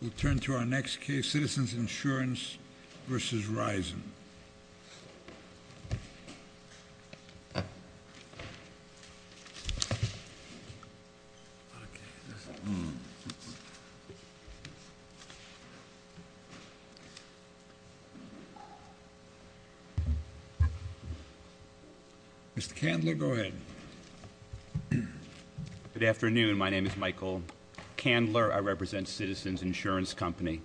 We'll turn to our next case, Citizens Insurance v. Risen. Mr. Candler, go ahead. Good afternoon. My name is Michael Candler. I represent Citizens Insurance Company.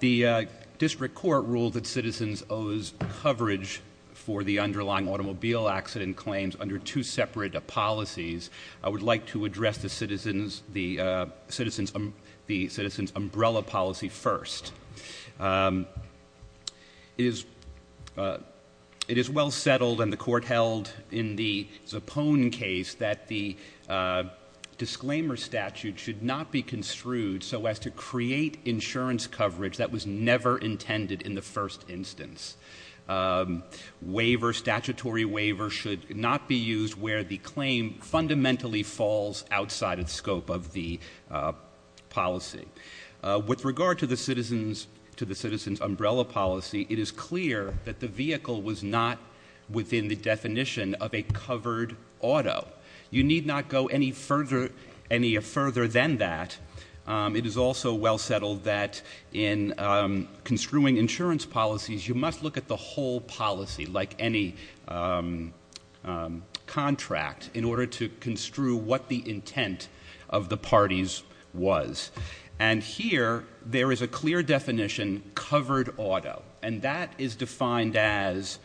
The district court ruled that Citizens owes coverage for the underlying automobile accident claims under two separate policies. I would like to address the Citizens umbrella policy first. It is well settled and the court held in the Zappone case that the disclaimer statute should not be construed so as to create insurance coverage that was never intended in the first instance. Waiver, statutory waiver should not be used where the claim fundamentally falls outside of the scope of the policy. With regard to the Citizens umbrella policy, it is clear that the vehicle was not within the definition of a covered auto. You need not go any further than that. It is also well settled that in construing insurance policies, you must look at the whole policy like any contract in order to construe what the intent of the parties was. And here, there is a clear definition, covered auto. And that is defined as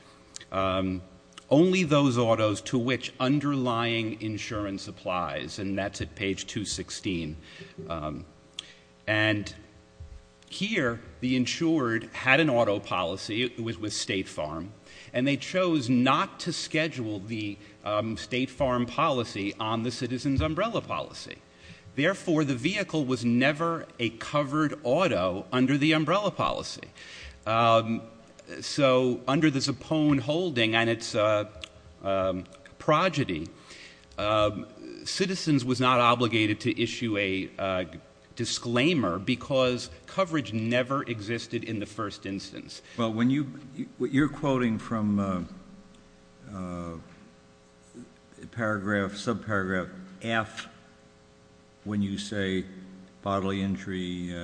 only those autos to which underlying insurance applies. And that's at page 216. And here, the insured had an auto policy. It was with State Farm. And they chose not to schedule the State Farm policy on the Citizens umbrella policy. Therefore, the vehicle was never a covered auto under the umbrella policy. So under the Zappone holding and its progeny, Citizens was not obligated to issue a disclaimer because coverage never existed in the first instance. You're quoting from paragraph, subparagraph F when you say bodily injury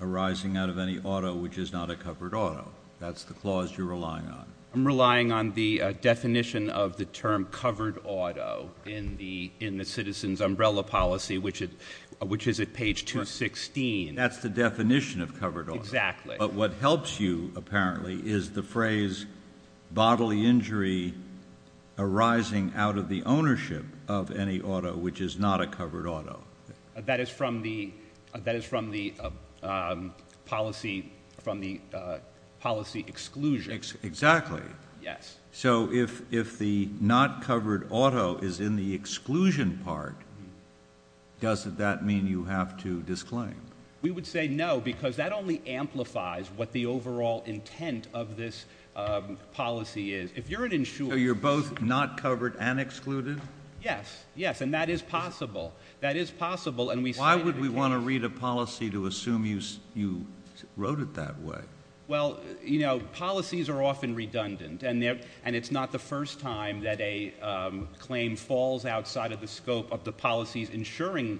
arising out of any auto which is not a covered auto. That's the clause you're relying on. I'm relying on the definition of the term covered auto in the Citizens umbrella policy, which is at page 216. That's the definition of covered auto. Exactly. But what helps you, apparently, is the phrase bodily injury arising out of the ownership of any auto which is not a covered auto. That is from the policy exclusion. Exactly. Yes. So if the not covered auto is in the exclusion part, doesn't that mean you have to disclaim? We would say no because that only amplifies what the overall intent of this policy is. If you're an insurer... So you're both not covered and excluded? Yes. Yes. And that is possible. That is possible. Why would we want to read a policy to assume you wrote it that way? Well, you know, policies are often redundant. And it's not the first time that a claim falls outside of the scope of the policies insuring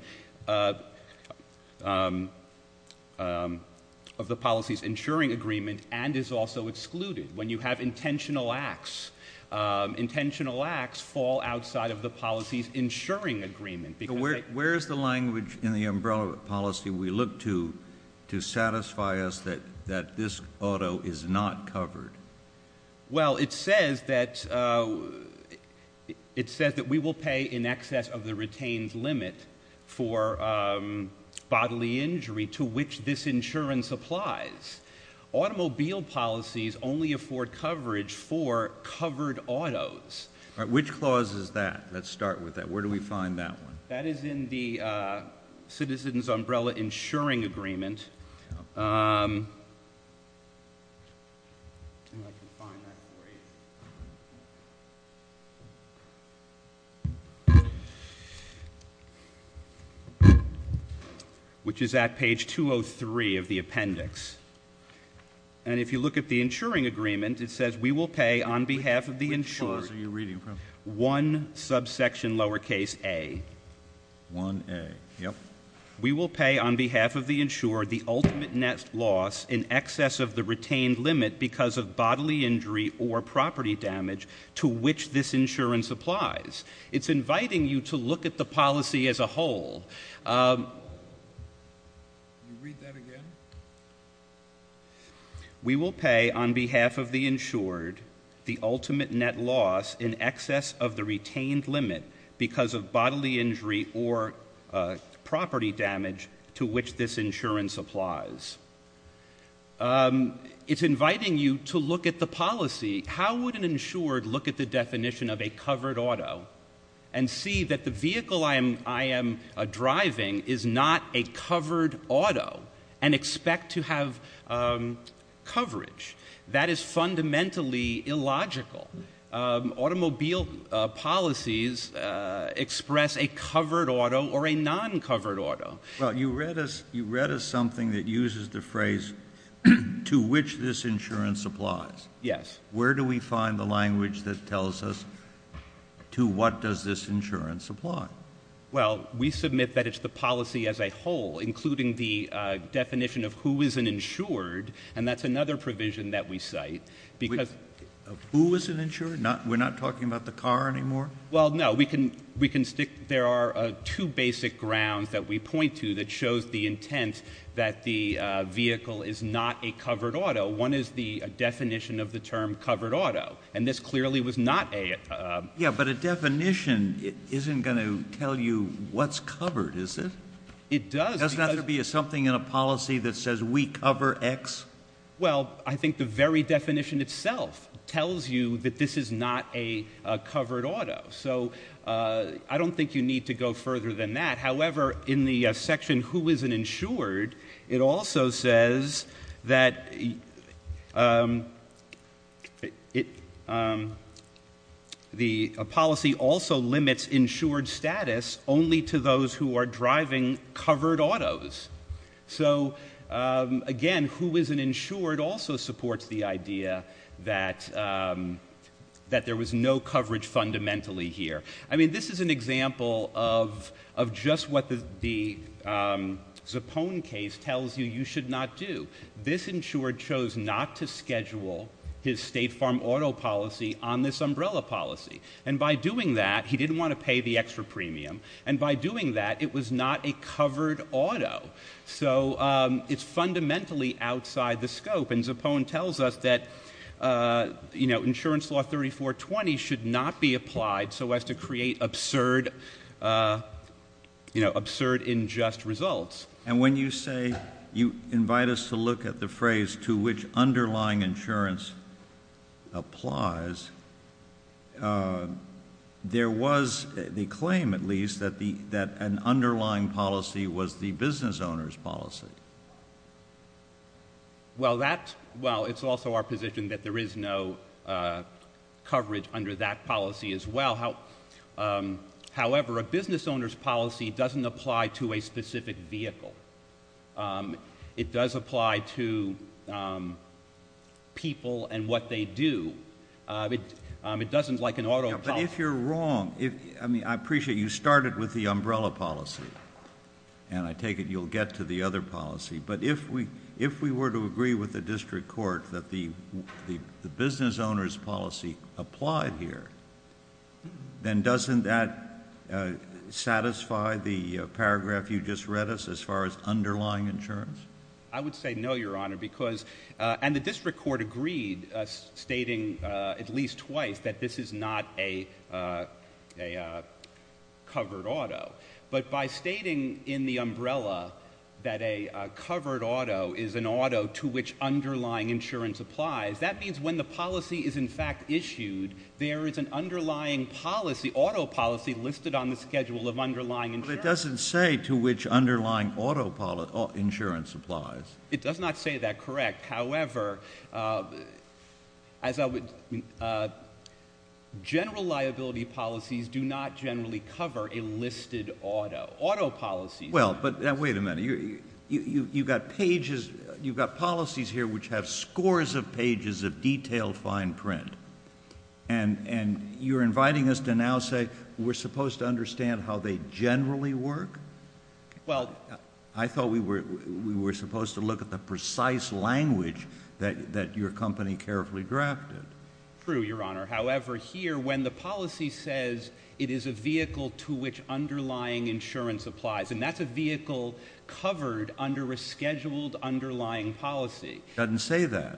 agreement and is also excluded. When you have intentional acts, intentional acts fall outside of the policies insuring agreement. Where is the language in the umbrella policy we look to to satisfy us that this auto is not covered? Well, it says that we will pay in excess of the retained limit for bodily injury to which this insurance applies. Automobile policies only afford coverage for covered autos. Which clause is that? Let's start with that. Where do we find that one? That is in the citizen's umbrella insuring agreement, which is at page 203 of the appendix. And if you look at the insuring agreement, it says we will pay on behalf of the insurer... Which clause are you reading from? One subsection lowercase a. One a. Yep. We will pay on behalf of the insurer the ultimate net loss in excess of the retained limit because of bodily injury or property damage to which this insurance applies. It's inviting you to look at the policy as a whole. Can you read that again? We will pay on behalf of the insured the ultimate net loss in excess of the retained limit because of bodily injury or property damage to which this insurance applies. It's inviting you to look at the policy. How would an insured look at the definition of a covered auto and see that the vehicle I am driving is not a covered auto and expect to have coverage? That is fundamentally illogical. Automobile policies express a covered auto or a non-covered auto. You read us something that uses the phrase to which this insurance applies. Yes. Where do we find the language that tells us to what does this insurance apply? Well, we submit that it's the policy as a whole, including the definition of who is an insured, and that's another provision that we cite. Who is an insured? We're not talking about the car anymore? Well, no. We can stick. There are two basic grounds that we point to that shows the intent that the vehicle is not a covered auto. One is the definition of the term covered auto, and this clearly was not a. Yeah, but a definition isn't going to tell you what's covered, is it? It does. Doesn't that have to be something in a policy that says we cover X? Well, I think the very definition itself tells you that this is not a covered auto. So I don't think you need to go further than that. However, in the section who is an insured, it also says that the policy also limits insured status only to those who are driving covered autos. So, again, who is an insured also supports the idea that there was no coverage fundamentally here. I mean, this is an example of just what the Zappone case tells you you should not do. This insured chose not to schedule his state farm auto policy on this umbrella policy. And by doing that, he didn't want to pay the extra premium. And by doing that, it was not a covered auto. So it's fundamentally outside the scope. And Zappone tells us that, you know, insurance law 3420 should not be applied so as to create absurd, you know, absurd, injust results. And when you say you invite us to look at the phrase to which underlying insurance applies, there was the claim, at least, that an underlying policy was the business owner's policy. Well, it's also our position that there is no coverage under that policy as well. However, a business owner's policy doesn't apply to a specific vehicle. It does apply to people and what they do. It doesn't like an auto policy. But if you're wrong, I mean, I appreciate you started with the umbrella policy. And I take it you'll get to the other policy. But if we were to agree with the district court that the business owner's policy applied here, then doesn't that satisfy the paragraph you just read us as far as underlying insurance? I would say no, Your Honor, because – and the district court agreed stating at least twice that this is not a covered auto. But by stating in the umbrella that a covered auto is an auto to which underlying insurance applies, that means when the policy is, in fact, issued, there is an underlying policy, auto policy, listed on the schedule of underlying insurance. But it doesn't say to which underlying auto insurance applies. It does not say that correct. However, as I would – general liability policies do not generally cover a listed auto. Auto policies – Well, but – now, wait a minute. You've got pages – you've got policies here which have scores of pages of detailed fine print. And you're inviting us to now say we're supposed to understand how they generally work? Well – I thought we were supposed to look at the precise language that your company carefully drafted. True, Your Honor. However, here when the policy says it is a vehicle to which underlying insurance applies, and that's a vehicle covered under a scheduled underlying policy. It doesn't say that.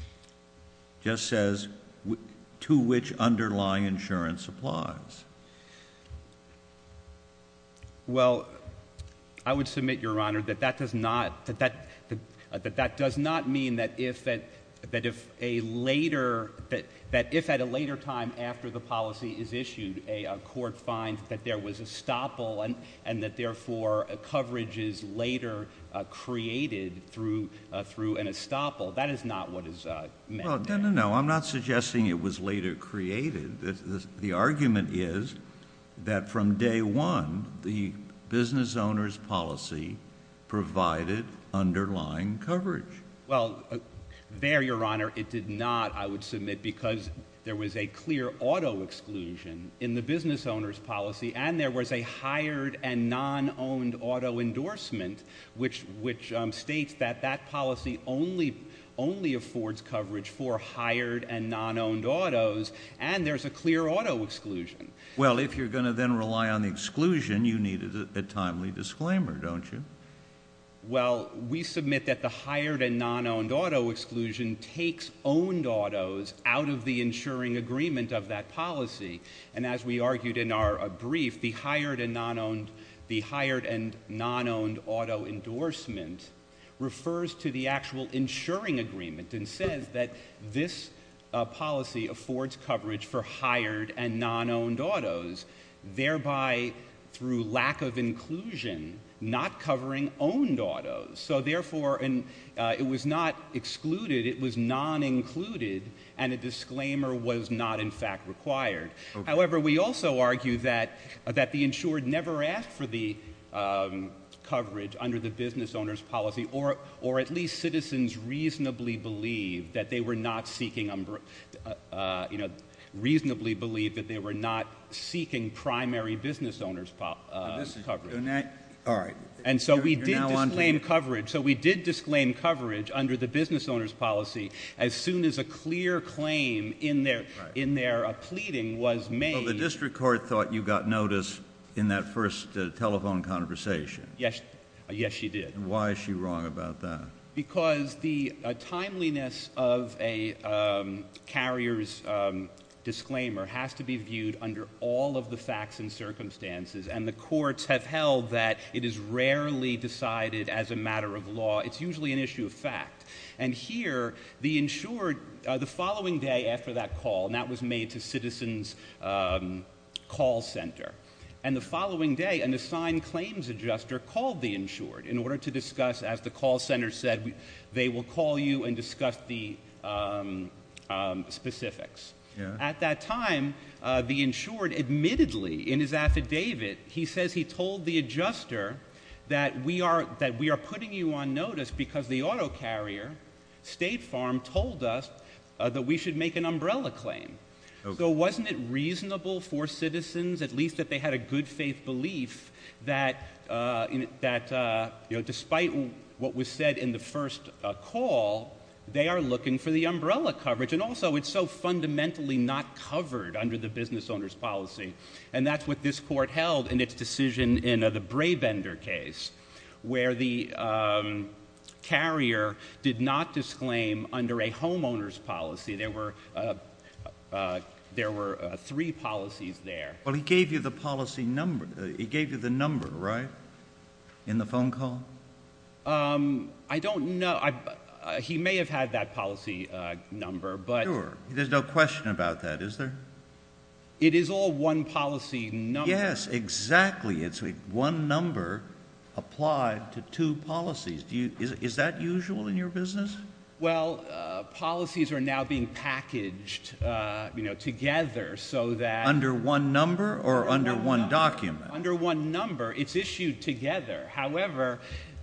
It just says to which underlying insurance applies. Well, I would submit, Your Honor, that that does not – that that does not mean that if a later – that if at a later time after the policy is issued, a court finds that there was a stopple and that, therefore, coverage is later created through an estoppel. That is not what is meant. No, no, no. I'm not suggesting it was later created. The argument is that from day one, the business owner's policy provided underlying coverage. Well, there, Your Honor, it did not, I would submit, because there was a clear auto exclusion in the business owner's policy, and there was a hired and non-owned auto endorsement, which states that that policy only affords coverage for hired and non-owned autos, and there's a clear auto exclusion. Well, if you're going to then rely on the exclusion, you need a timely disclaimer, don't you? Well, we submit that the hired and non-owned auto exclusion takes owned autos out of the insuring agreement of that policy. And as we argued in our brief, the hired and non-owned – the hired and non-owned auto endorsement refers to the actual insuring agreement and says that this policy affords coverage for hired and non-owned autos, thereby, through lack of inclusion, not covering owned autos. So, therefore, it was not excluded, it was non-included, and a disclaimer was not, in fact, required. However, we also argue that the insured never asked for the coverage under the business owner's policy, or at least citizens reasonably believed that they were not seeking primary business owner's coverage. And so we did disclaim coverage under the business owner's policy as soon as a clear claim in their pleading was made. Well, the district court thought you got notice in that first telephone conversation. Yes, she did. Why is she wrong about that? Because the timeliness of a carrier's disclaimer has to be viewed under all of the facts and circumstances, and the courts have held that it is rarely decided as a matter of law. It's usually an issue of fact. And here, the insured – the following day after that call, and that was made to Citizens Call Center, and the following day, an assigned claims adjuster called the insured in order to discuss, as the call center said, they will call you and discuss the specifics. At that time, the insured admittedly in his affidavit, he says he told the adjuster that we are putting you on notice because the auto carrier, State Farm, told us that we should make an umbrella claim. So wasn't it reasonable for citizens, at least that they had a good faith belief, that despite what was said in the first call, they are looking for the umbrella coverage? And also, it's so fundamentally not covered under the business owner's policy, and that's what this court held in its decision in the Braebender case, where the carrier did not disclaim under a homeowner's policy. There were three policies there. Well, he gave you the policy number. He gave you the number, right, in the phone call? I don't know. He may have had that policy number. Sure. There's no question about that, is there? It is all one policy number. Yes, exactly. It's one number applied to two policies. Is that usual in your business? Well, policies are now being packaged, you know, together so that Under one number or under one document? Under one number. It's issued together. However,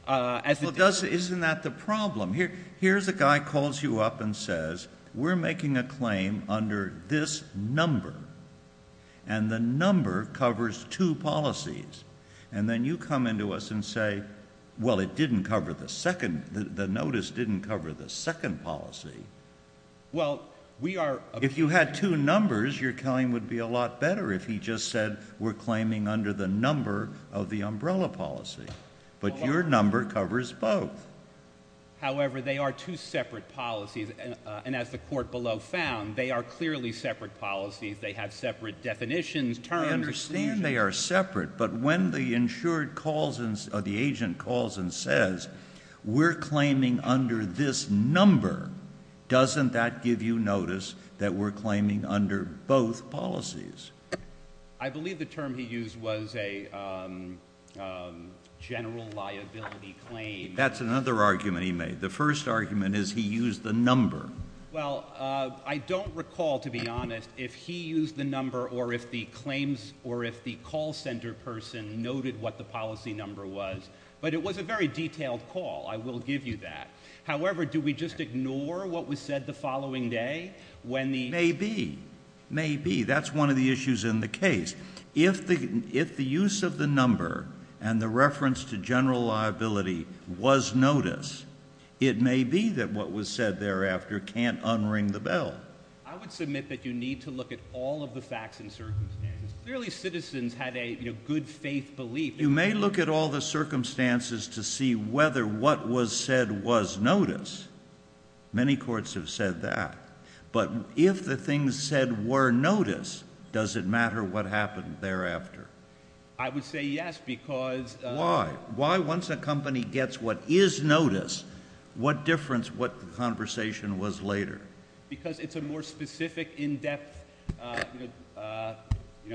as it does Well, isn't that the problem? Here's a guy calls you up and says, We're making a claim under this number, and the number covers two policies. And then you come in to us and say, Well, it didn't cover the second. The notice didn't cover the second policy. Well, we are If you had two numbers, your claim would be a lot better if he just said, We're claiming under the number of the umbrella policy. But your number covers both. However, they are two separate policies. And as the court below found, they are clearly separate policies. They have separate definitions, terms. I understand they are separate. But when the agent calls and says, We're claiming under this number, doesn't that give you notice that we're claiming under both policies? I believe the term he used was a general liability claim. That's another argument he made. The first argument is he used the number. Well, I don't recall, to be honest, if he used the number or if the call center person noted what the policy number was. But it was a very detailed call. I will give you that. However, do we just ignore what was said the following day? Maybe. Maybe. That's one of the issues in the case. If the use of the number and the reference to general liability was notice, it may be that what was said thereafter can't unring the bell. I would submit that you need to look at all of the facts and circumstances. Clearly, citizens had a good-faith belief. You may look at all the circumstances to see whether what was said was notice. Many courts have said that. But if the things said were notice, does it matter what happened thereafter? I would say yes, because — Why? Why, once a company gets what is notice, what difference what the conversation was later? Because it's a more specific, in-depth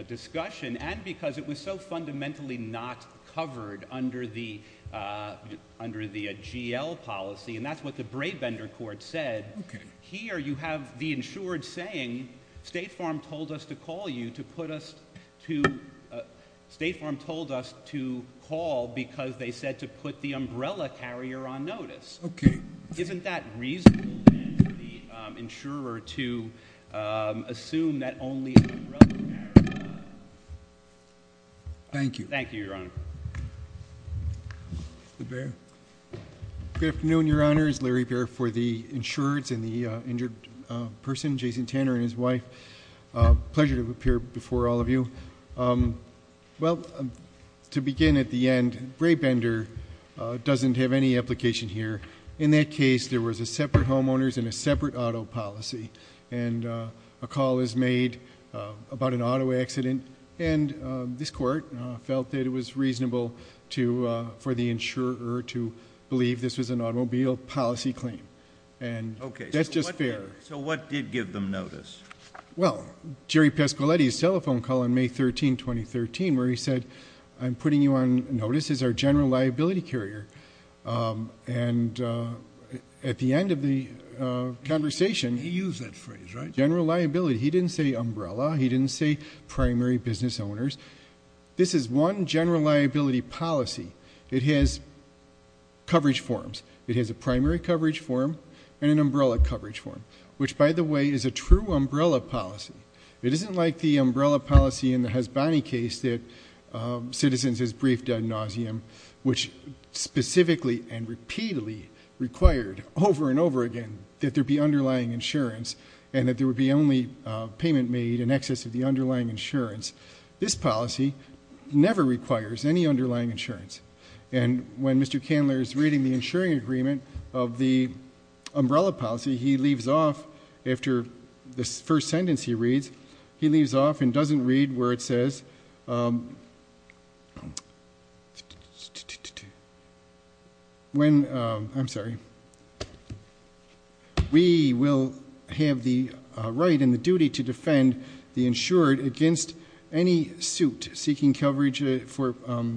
discussion, and because it was so fundamentally not covered under the GL policy, and that's what the Brabender Court said. Okay. Here you have the insured saying State Farm told us to call you to put us to — State Farm told us to call because they said to put the umbrella carrier on notice. Okay. Isn't that reasonable then for the insurer to assume that only the umbrella carrier? Thank you. Thank you, Your Honor. LeBair. Good afternoon, Your Honor. It's Larry Bair for the insurers and the injured person, Jason Tanner, and his wife. Pleasure to appear before all of you. Well, to begin at the end, Brabender doesn't have any application here. In that case, there was separate homeowners and a separate auto policy, and a call is made about an auto accident, and this court felt that it was reasonable for the insurer to believe this was an automobile policy claim, and that's just fair. Okay. So what did give them notice? Well, Jerry Pescoletti's telephone call on May 13, 2013, where he said, I'm putting you on notice as our general liability carrier, and at the end of the conversation — He used that phrase, right? General liability. He didn't say umbrella. He didn't say primary business owners. This is one general liability policy. It has coverage forms. It has a primary coverage form and an umbrella coverage form, which, by the way, is a true umbrella policy. It isn't like the umbrella policy in the Hasbani case that citizens as briefed ad nauseum, which specifically and repeatedly required over and over again that there be underlying insurance and that there would be only payment made in excess of the underlying insurance. This policy never requires any underlying insurance, and when Mr. Candler is reading the insuring agreement of the umbrella policy, he leaves off after the first sentence he reads. He leaves off and doesn't read where it says, I'm sorry, we will have the right and the duty to defend the insured against any suit seeking coverage for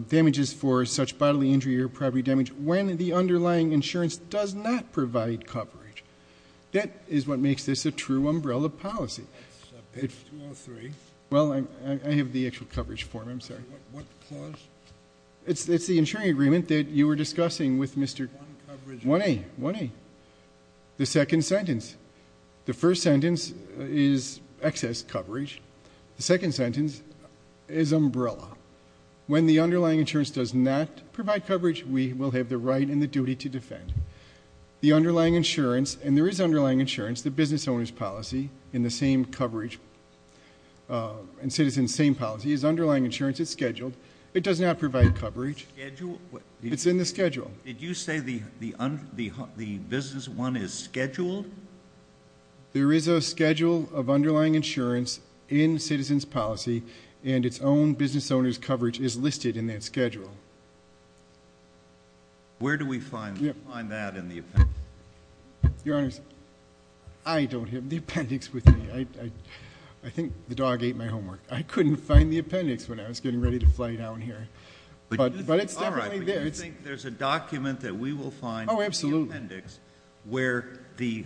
damages for such bodily injury or property damage when the underlying insurance does not provide coverage. That is what makes this a true umbrella policy. Page 203. Well, I have the actual coverage form. I'm sorry. What clause? It's the insuring agreement that you were discussing with Mr. 1A. 1A. The second sentence. The first sentence is excess coverage. The second sentence is umbrella. When the underlying insurance does not provide coverage, we will have the right and the duty to defend. The underlying insurance, and there is underlying insurance, the business owner's policy, in the same coverage and citizen's same policy, is underlying insurance. It's scheduled. It does not provide coverage. Schedule? It's in the schedule. Did you say the business one is scheduled? There is a schedule of underlying insurance in citizen's policy, and its own business owner's coverage is listed in that schedule. Where do we find that in the appendix? Your Honor, I don't have the appendix with me. I think the dog ate my homework. I couldn't find the appendix when I was getting ready to fly down here. But it's definitely there. Do you think there's a document that we will find in the appendix where the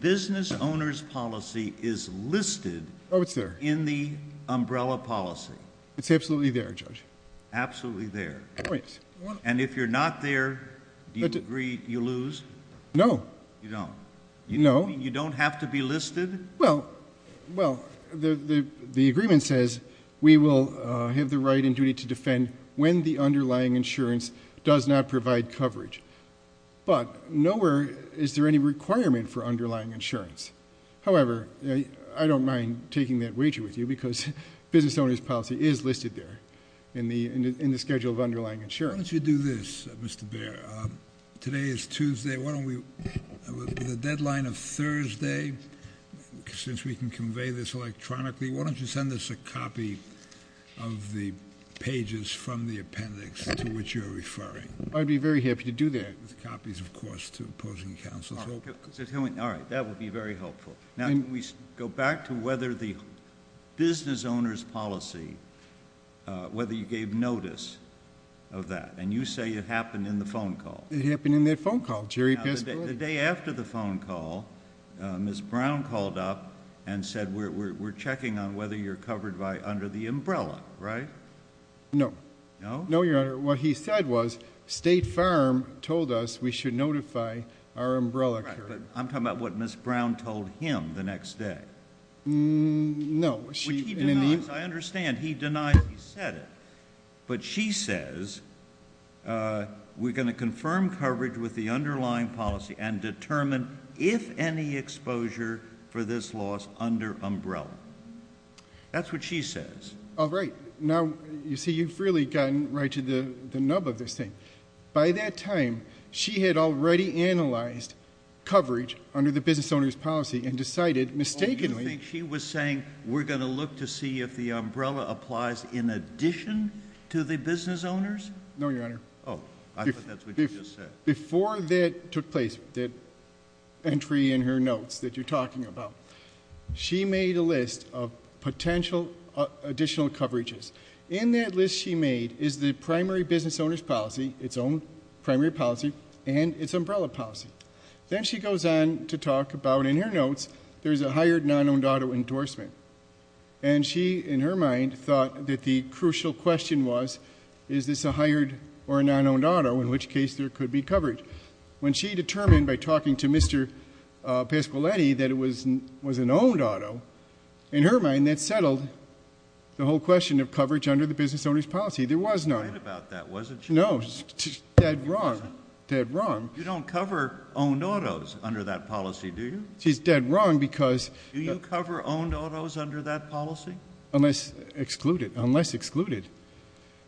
business owner's policy is listed in the umbrella policy? It's absolutely there, Judge. Absolutely there. And if you're not there, do you agree you lose? No. You don't? No. You don't have to be listed? Well, the agreement says we will have the right and duty to defend when the underlying insurance does not provide coverage. But nowhere is there any requirement for underlying insurance. However, I don't mind taking that wager with you because business owner's policy is listed there in the schedule of underlying insurance. Why don't you do this, Mr. Bair? Today is Tuesday. Why don't we, with the deadline of Thursday, since we can convey this electronically, why don't you send us a copy of the pages from the appendix to which you're referring? I'd be very happy to do that. With copies, of course, to opposing counsel. All right. That would be very helpful. Now, we go back to whether the business owner's policy, whether you gave notice of that, and you say it happened in the phone call. It happened in that phone call. The day after the phone call, Ms. Brown called up and said, we're checking on whether you're covered under the umbrella, right? No. No? No, Your Honor. What he said was State Farm told us we should notify our umbrella. Right, but I'm talking about what Ms. Brown told him the next day. No. Which he denies. I understand. He denies he said it. But she says, we're going to confirm coverage with the underlying policy and determine if any exposure for this loss under umbrella. That's what she says. All right. Now, you see, you've really gotten right to the nub of this thing. By that time, she had already analyzed coverage under the business owner's policy and decided mistakenly. Oh, you think she was saying, we're going to look to see if the umbrella applies in addition to the business owners? No, Your Honor. Oh, I thought that's what you just said. Before that took place, that entry in her notes that you're talking about, she made a list of potential additional coverages. In that list she made is the primary business owner's policy, its own primary policy, and its umbrella policy. Then she goes on to talk about, in her notes, there's a hired non-owned auto endorsement. And she, in her mind, thought that the crucial question was, is this a hired or a non-owned auto, in which case there could be coverage. But when she determined by talking to Mr. Pasquiletti that it was an owned auto, in her mind that settled the whole question of coverage under the business owner's policy. There was none. She was right about that, wasn't she? No. Dead wrong. Dead wrong. You don't cover owned autos under that policy, do you? She's dead wrong because... Do you cover owned autos under that policy? Unless excluded. Unless excluded.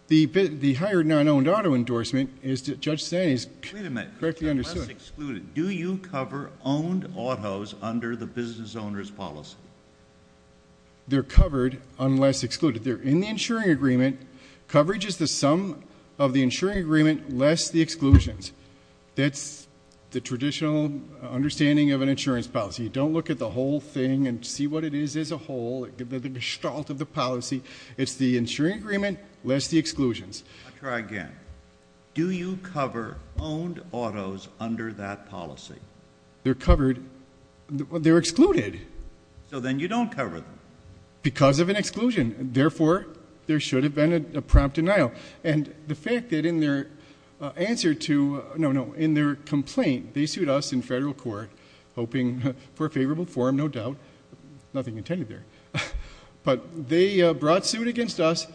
The hired non-owned auto endorsement, as Judge Staney correctly understood... Wait a minute. Unless excluded. Do you cover owned autos under the business owner's policy? They're covered unless excluded. They're in the insuring agreement. Coverage is the sum of the insuring agreement less the exclusions. That's the traditional understanding of an insurance policy. You don't look at the whole thing and see what it is as a whole, the gestalt of the policy. It's the insuring agreement less the exclusions. I'll try again. Do you cover owned autos under that policy? They're covered... They're excluded. So then you don't cover them. Because of an exclusion. Therefore, there should have been a prompt denial. And the fact that in their answer to... No, no. In their complaint, they sued us in federal court, hoping for a favorable forum, no doubt. Nothing intended there. But they brought suit against us.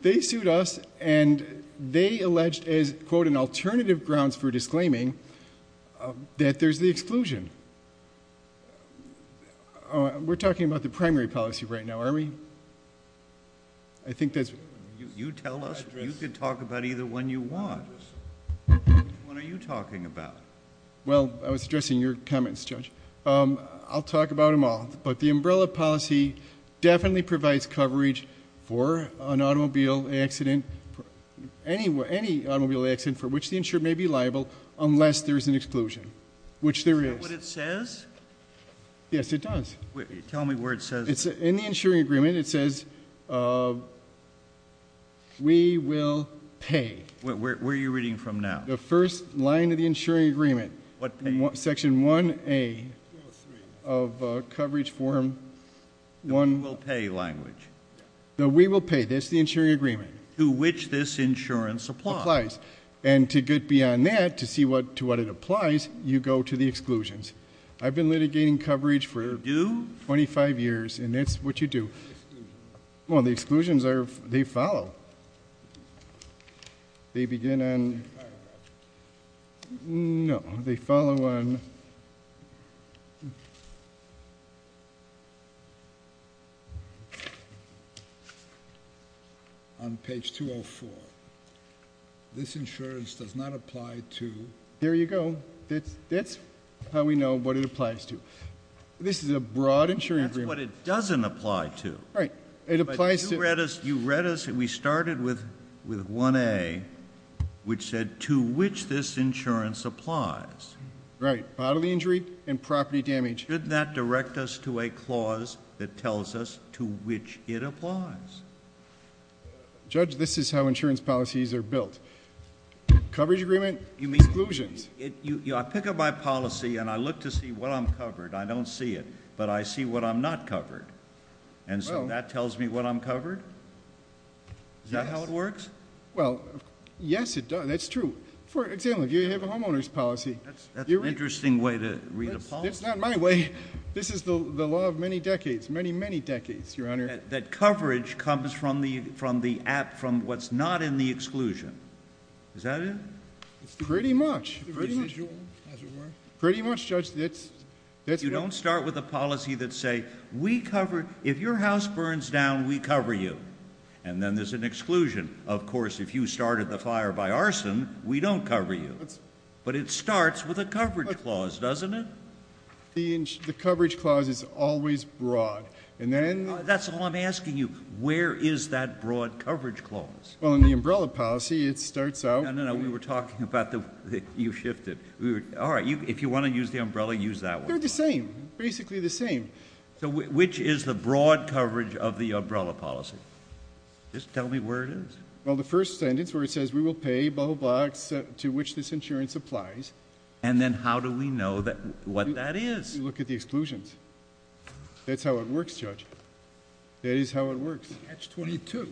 They sued us. And they alleged as, quote, an alternative grounds for disclaiming that there's the exclusion. We're talking about the primary policy right now, aren't we? I think that's... You tell us. You can talk about either one you want. Which one are you talking about? Well, I was addressing your comments, Judge. I'll talk about them all. But the umbrella policy definitely provides coverage for an automobile accident... Any automobile accident for which the insured may be liable unless there's an exclusion, which there is. Is that what it says? Yes, it does. Tell me where it says... In the insuring agreement, it says, we will pay. Where are you reading from now? The first line of the insuring agreement. What pay? Section 1A of coverage form 1... The we will pay language. The we will pay. That's the insuring agreement. To which this insurance applies. Applies. And to get beyond that, to see to what it applies, you go to the exclusions. I've been litigating coverage for... You do?... 25 years. And that's what you do. Exclusions. Well, the exclusions are... they follow. They begin on... No. They follow on... On page 204. This insurance does not apply to... There you go. That's how we know what it applies to. This is a broad insuring agreement. That's what it doesn't apply to. Right. It applies to... To which this insurance applies. Right. Bodily injury and property damage. Shouldn't that direct us to a clause that tells us to which it applies? Judge, this is how insurance policies are built. Coverage agreement, exclusions. I pick up my policy and I look to see what I'm covered. I don't see it. But I see what I'm not covered. And so that tells me what I'm covered? Yes. Is that how it works? Well, yes, it does. That's true. For example, if you have a homeowner's policy... That's an interesting way to read a policy. It's not my way. This is the law of many decades, many, many decades, Your Honor. That coverage comes from the app, from what's not in the exclusion. Is that it? Pretty much. Pretty much. As it were. Pretty much, Judge. That's... You don't start with a policy that says we cover... If your house burns down, we cover you. And then there's an exclusion. Of course, if you started the fire by arson, we don't cover you. But it starts with a coverage clause, doesn't it? The coverage clause is always broad. And then... That's all I'm asking you. Where is that broad coverage clause? Well, in the umbrella policy, it starts out... No, no, no. We were talking about the... you shifted. All right. If you want to use the umbrella, use that one. They're the same. Basically the same. So, which is the broad coverage of the umbrella policy? Just tell me where it is. Well, the first sentence where it says, we will pay... to which this insurance applies. And then how do we know what that is? You look at the exclusions. That's how it works, Judge. That is how it works. Catch-22.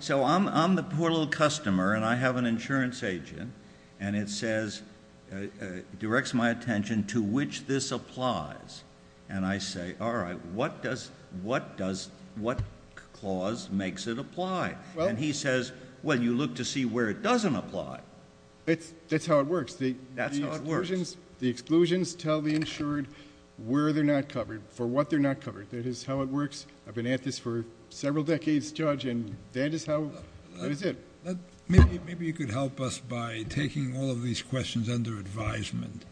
So, I'm the poor little customer, and I have an insurance agent. And it says... it directs my attention to which this applies. And I say, all right, what does... what clause makes it apply? And he says, well, you look to see where it doesn't apply. That's how it works. That's how it works. The exclusions tell the insured where they're not covered, for what they're not covered. That is how it works. I've been at this for several decades, Judge, and that is how... that is it. Maybe you could help us by taking all of these questions under advisement.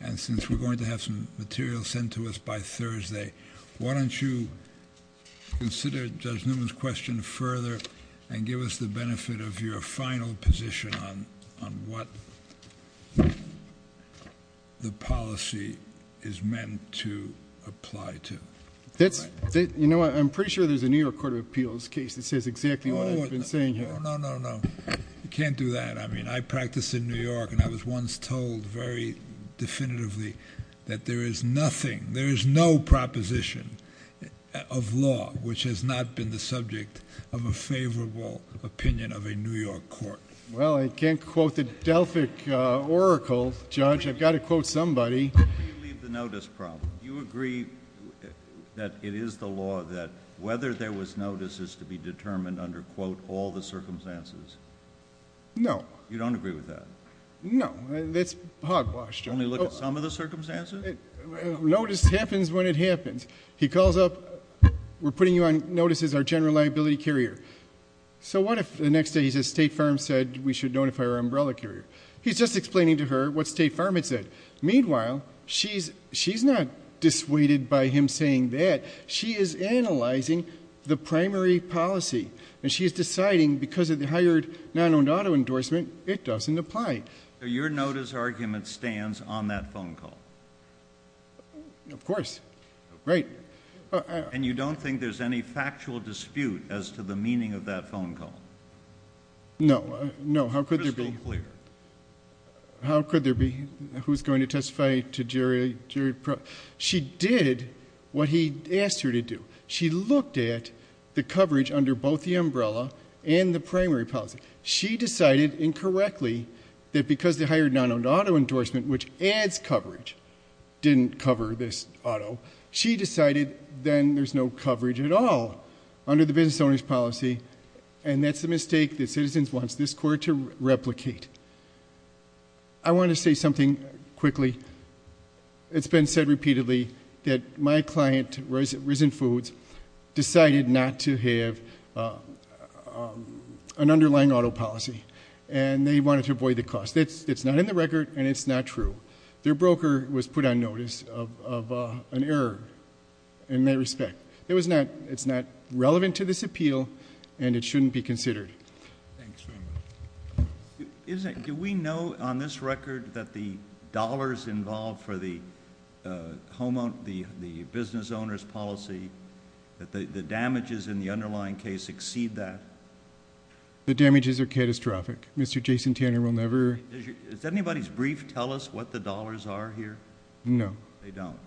And since we're going to have some material sent to us by Thursday, why don't you consider Judge Newman's question further, and give us the benefit of your final position on what the policy is meant to apply to. That's... you know what? I'm pretty sure there's a New York Court of Appeals case that says exactly what I've been saying here. Oh, no, no, no. You can't do that. I mean, I practice in New York, and I was once told very definitively that there is nothing... there is no proposition of law which has not been the subject of a favorable opinion of a New York court. Well, I can't quote the Delphic Oracle, Judge. I've got to quote somebody. How do you leave the notice problem? Do you agree that it is the law that whether there was notice is to be determined under, quote, all the circumstances? No. You don't agree with that? No. That's hogwash, Judge. Only look at some of the circumstances? Notice happens when it happens. He calls up, we're putting you on notice as our general liability carrier. So, what if the next day he says State Farm said we should notify our umbrella carrier? He's just explaining to her what State Farm had said. Meanwhile, she's not dissuaded by him saying that. She is analyzing the primary policy. And she is deciding because of the hired non-owned auto endorsement, it doesn't apply. So, your notice argument stands on that phone call? Of course. Right. And you don't think there's any factual dispute as to the meaning of that phone call? No. No. How could there be? It's crystal clear. How could there be? Who's going to testify to Jerry? She did what he asked her to do. She looked at the coverage under both the umbrella and the primary policy. She decided incorrectly that because the hired non-owned auto endorsement, which adds coverage, didn't cover this auto, she decided then there's no coverage at all under the business owner's policy. And that's the mistake that Citizens wants this court to replicate. I want to say something quickly. It's been said repeatedly that my client, Risen Foods, decided not to have an underlying auto policy. And they wanted to avoid the cost. It's not in the record, and it's not true. Their broker was put on notice of an error in that respect. It's not relevant to this appeal, and it shouldn't be considered. Thanks very much. Do we know on this record that the dollars involved for the business owner's policy, that the damages in the underlying case exceed that? The damages are catastrophic. Mr. Jason Tanner will never... Does anybody's brief tell us what the dollars are here? No. They don't.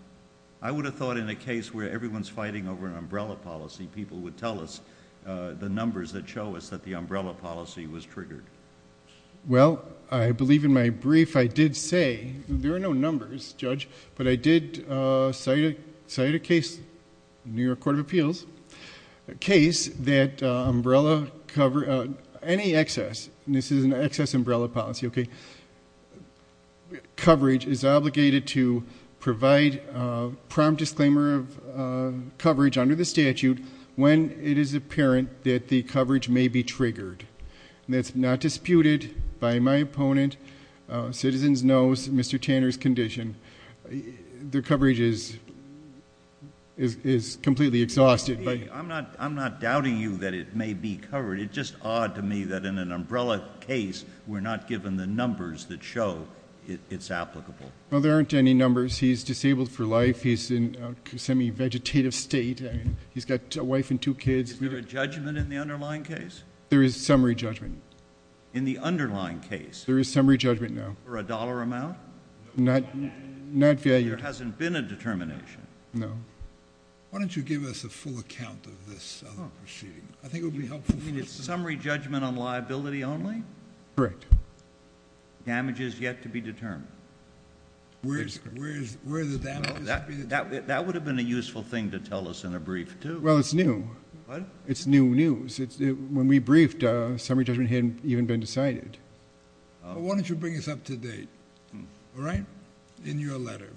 I would have thought in a case where everyone's fighting over an umbrella policy, people would tell us the numbers that show us that the umbrella policy was triggered. Well, I believe in my brief I did say, there are no numbers, Judge, but I did cite a case, New York Court of Appeals, a case that umbrella cover... any excess, and this is an excess umbrella policy, okay, where the coverage is obligated to provide a prompt disclaimer of coverage under the statute when it is apparent that the coverage may be triggered. That's not disputed by my opponent. Citizens knows Mr. Tanner's condition. The coverage is completely exhausted. I'm not doubting you that it may be covered. It's just odd to me that in an umbrella case, we're not given the numbers that show it's applicable. Well, there aren't any numbers. He's disabled for life. He's in a semi-vegetative state. He's got a wife and two kids. Is there a judgment in the underlying case? There is summary judgment. In the underlying case? There is summary judgment, no. For a dollar amount? Not valued. There hasn't been a determination? No. Why don't you give us a full account of this proceeding? I think it would be helpful. You mean it's summary judgment on liability only? Correct. Damage is yet to be determined? Where is the damage yet to be determined? That would have been a useful thing to tell us in a brief, too. Well, it's new. What? It's new news. When we briefed, summary judgment hadn't even been decided. Why don't you bring us up to date, all right, in your letter?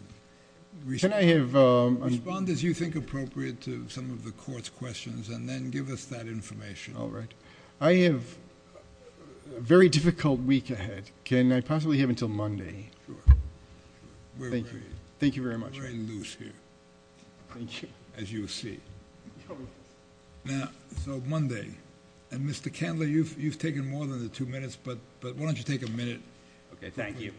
Respond as you think appropriate to some of the court's questions and then give us that information. All right. I have a very difficult week ahead. Can I possibly have until Monday? Sure. Thank you. Thank you very much. We're very loose here. Thank you. As you see. Now, so Monday. And, Mr. Candler, you've taken more than the two minutes, but why don't you take a minute? Okay, thank you.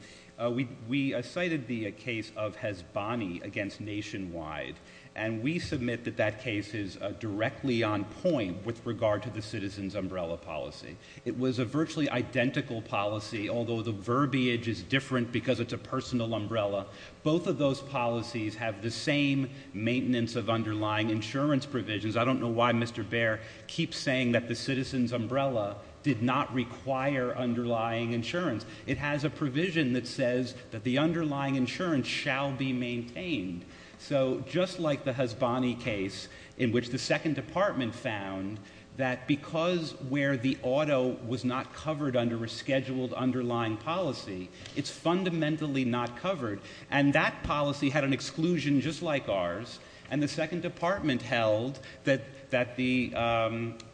We cited the case of Hezbollah against Nationwide, and we submit that that case is directly on point with regard to the citizen's umbrella policy. It was a virtually identical policy, although the verbiage is different because it's a personal umbrella. Both of those policies have the same maintenance of underlying insurance provisions. I don't know why Mr. Baer keeps saying that the citizen's umbrella did not require underlying insurance. It has a provision that says that the underlying insurance shall be maintained. So just like the Hezbollah case in which the Second Department found that because where the auto was not covered under a scheduled underlying policy, it's fundamentally not covered. And that policy had an exclusion just like ours, and the Second Department held that the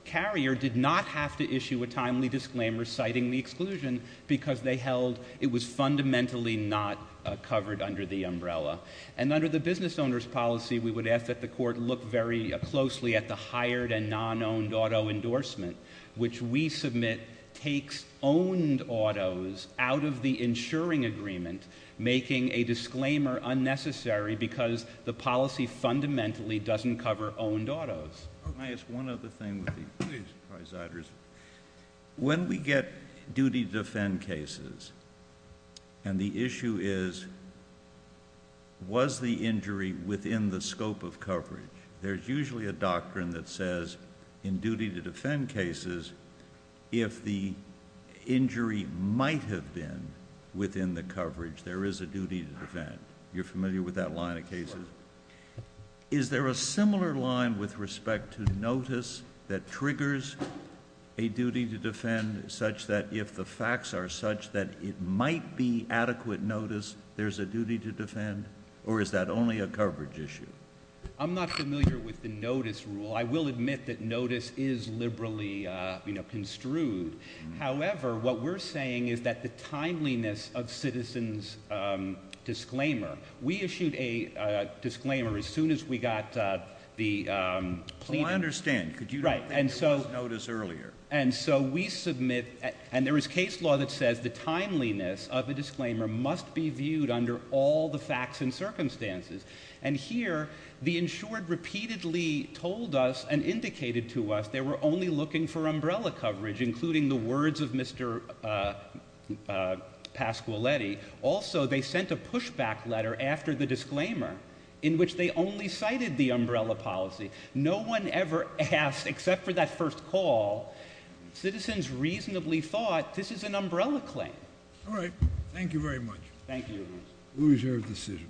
carrier did not have to issue a license because it was fundamentally not covered under the umbrella. And under the business owner's policy, we would ask that the court look very closely at the hired and non-owned auto endorsement, which we submit takes owned autos out of the insuring agreement, making a disclaimer unnecessary because the policy fundamentally doesn't cover owned autos. Can I ask one other thing? When we get duty to defend cases, and the issue is, was the injury within the scope of coverage? There's usually a doctrine that says in duty to defend cases, if the injury might have been within the coverage, there is a duty to defend. You're familiar with that line of cases? Is there a similar line with respect to notice that triggers a duty to defend such that if the facts are such that it might be adequate notice, there's a duty to defend, or is that only a coverage issue? I'm not familiar with the notice rule. I will admit that notice is liberally construed. However, what we're saying is that the timeliness of citizens disclaimer, we issued a disclaimer as soon as we got the plea. I understand. Could you write? And so notice earlier. And so we submit, and there was case law that says the timeliness of the disclaimer must be viewed under all the facts and circumstances. And here the insured repeatedly told us and indicated to us, they were only looking for umbrella coverage, including the words of Mr. Pasquiletti. Also, they sent a pushback letter after the disclaimer in which they only cited the umbrella policy. No one ever asked except for that first call citizens reasonably thought this is an umbrella claim. All right. Thank you very much. Thank you. We reserve decision.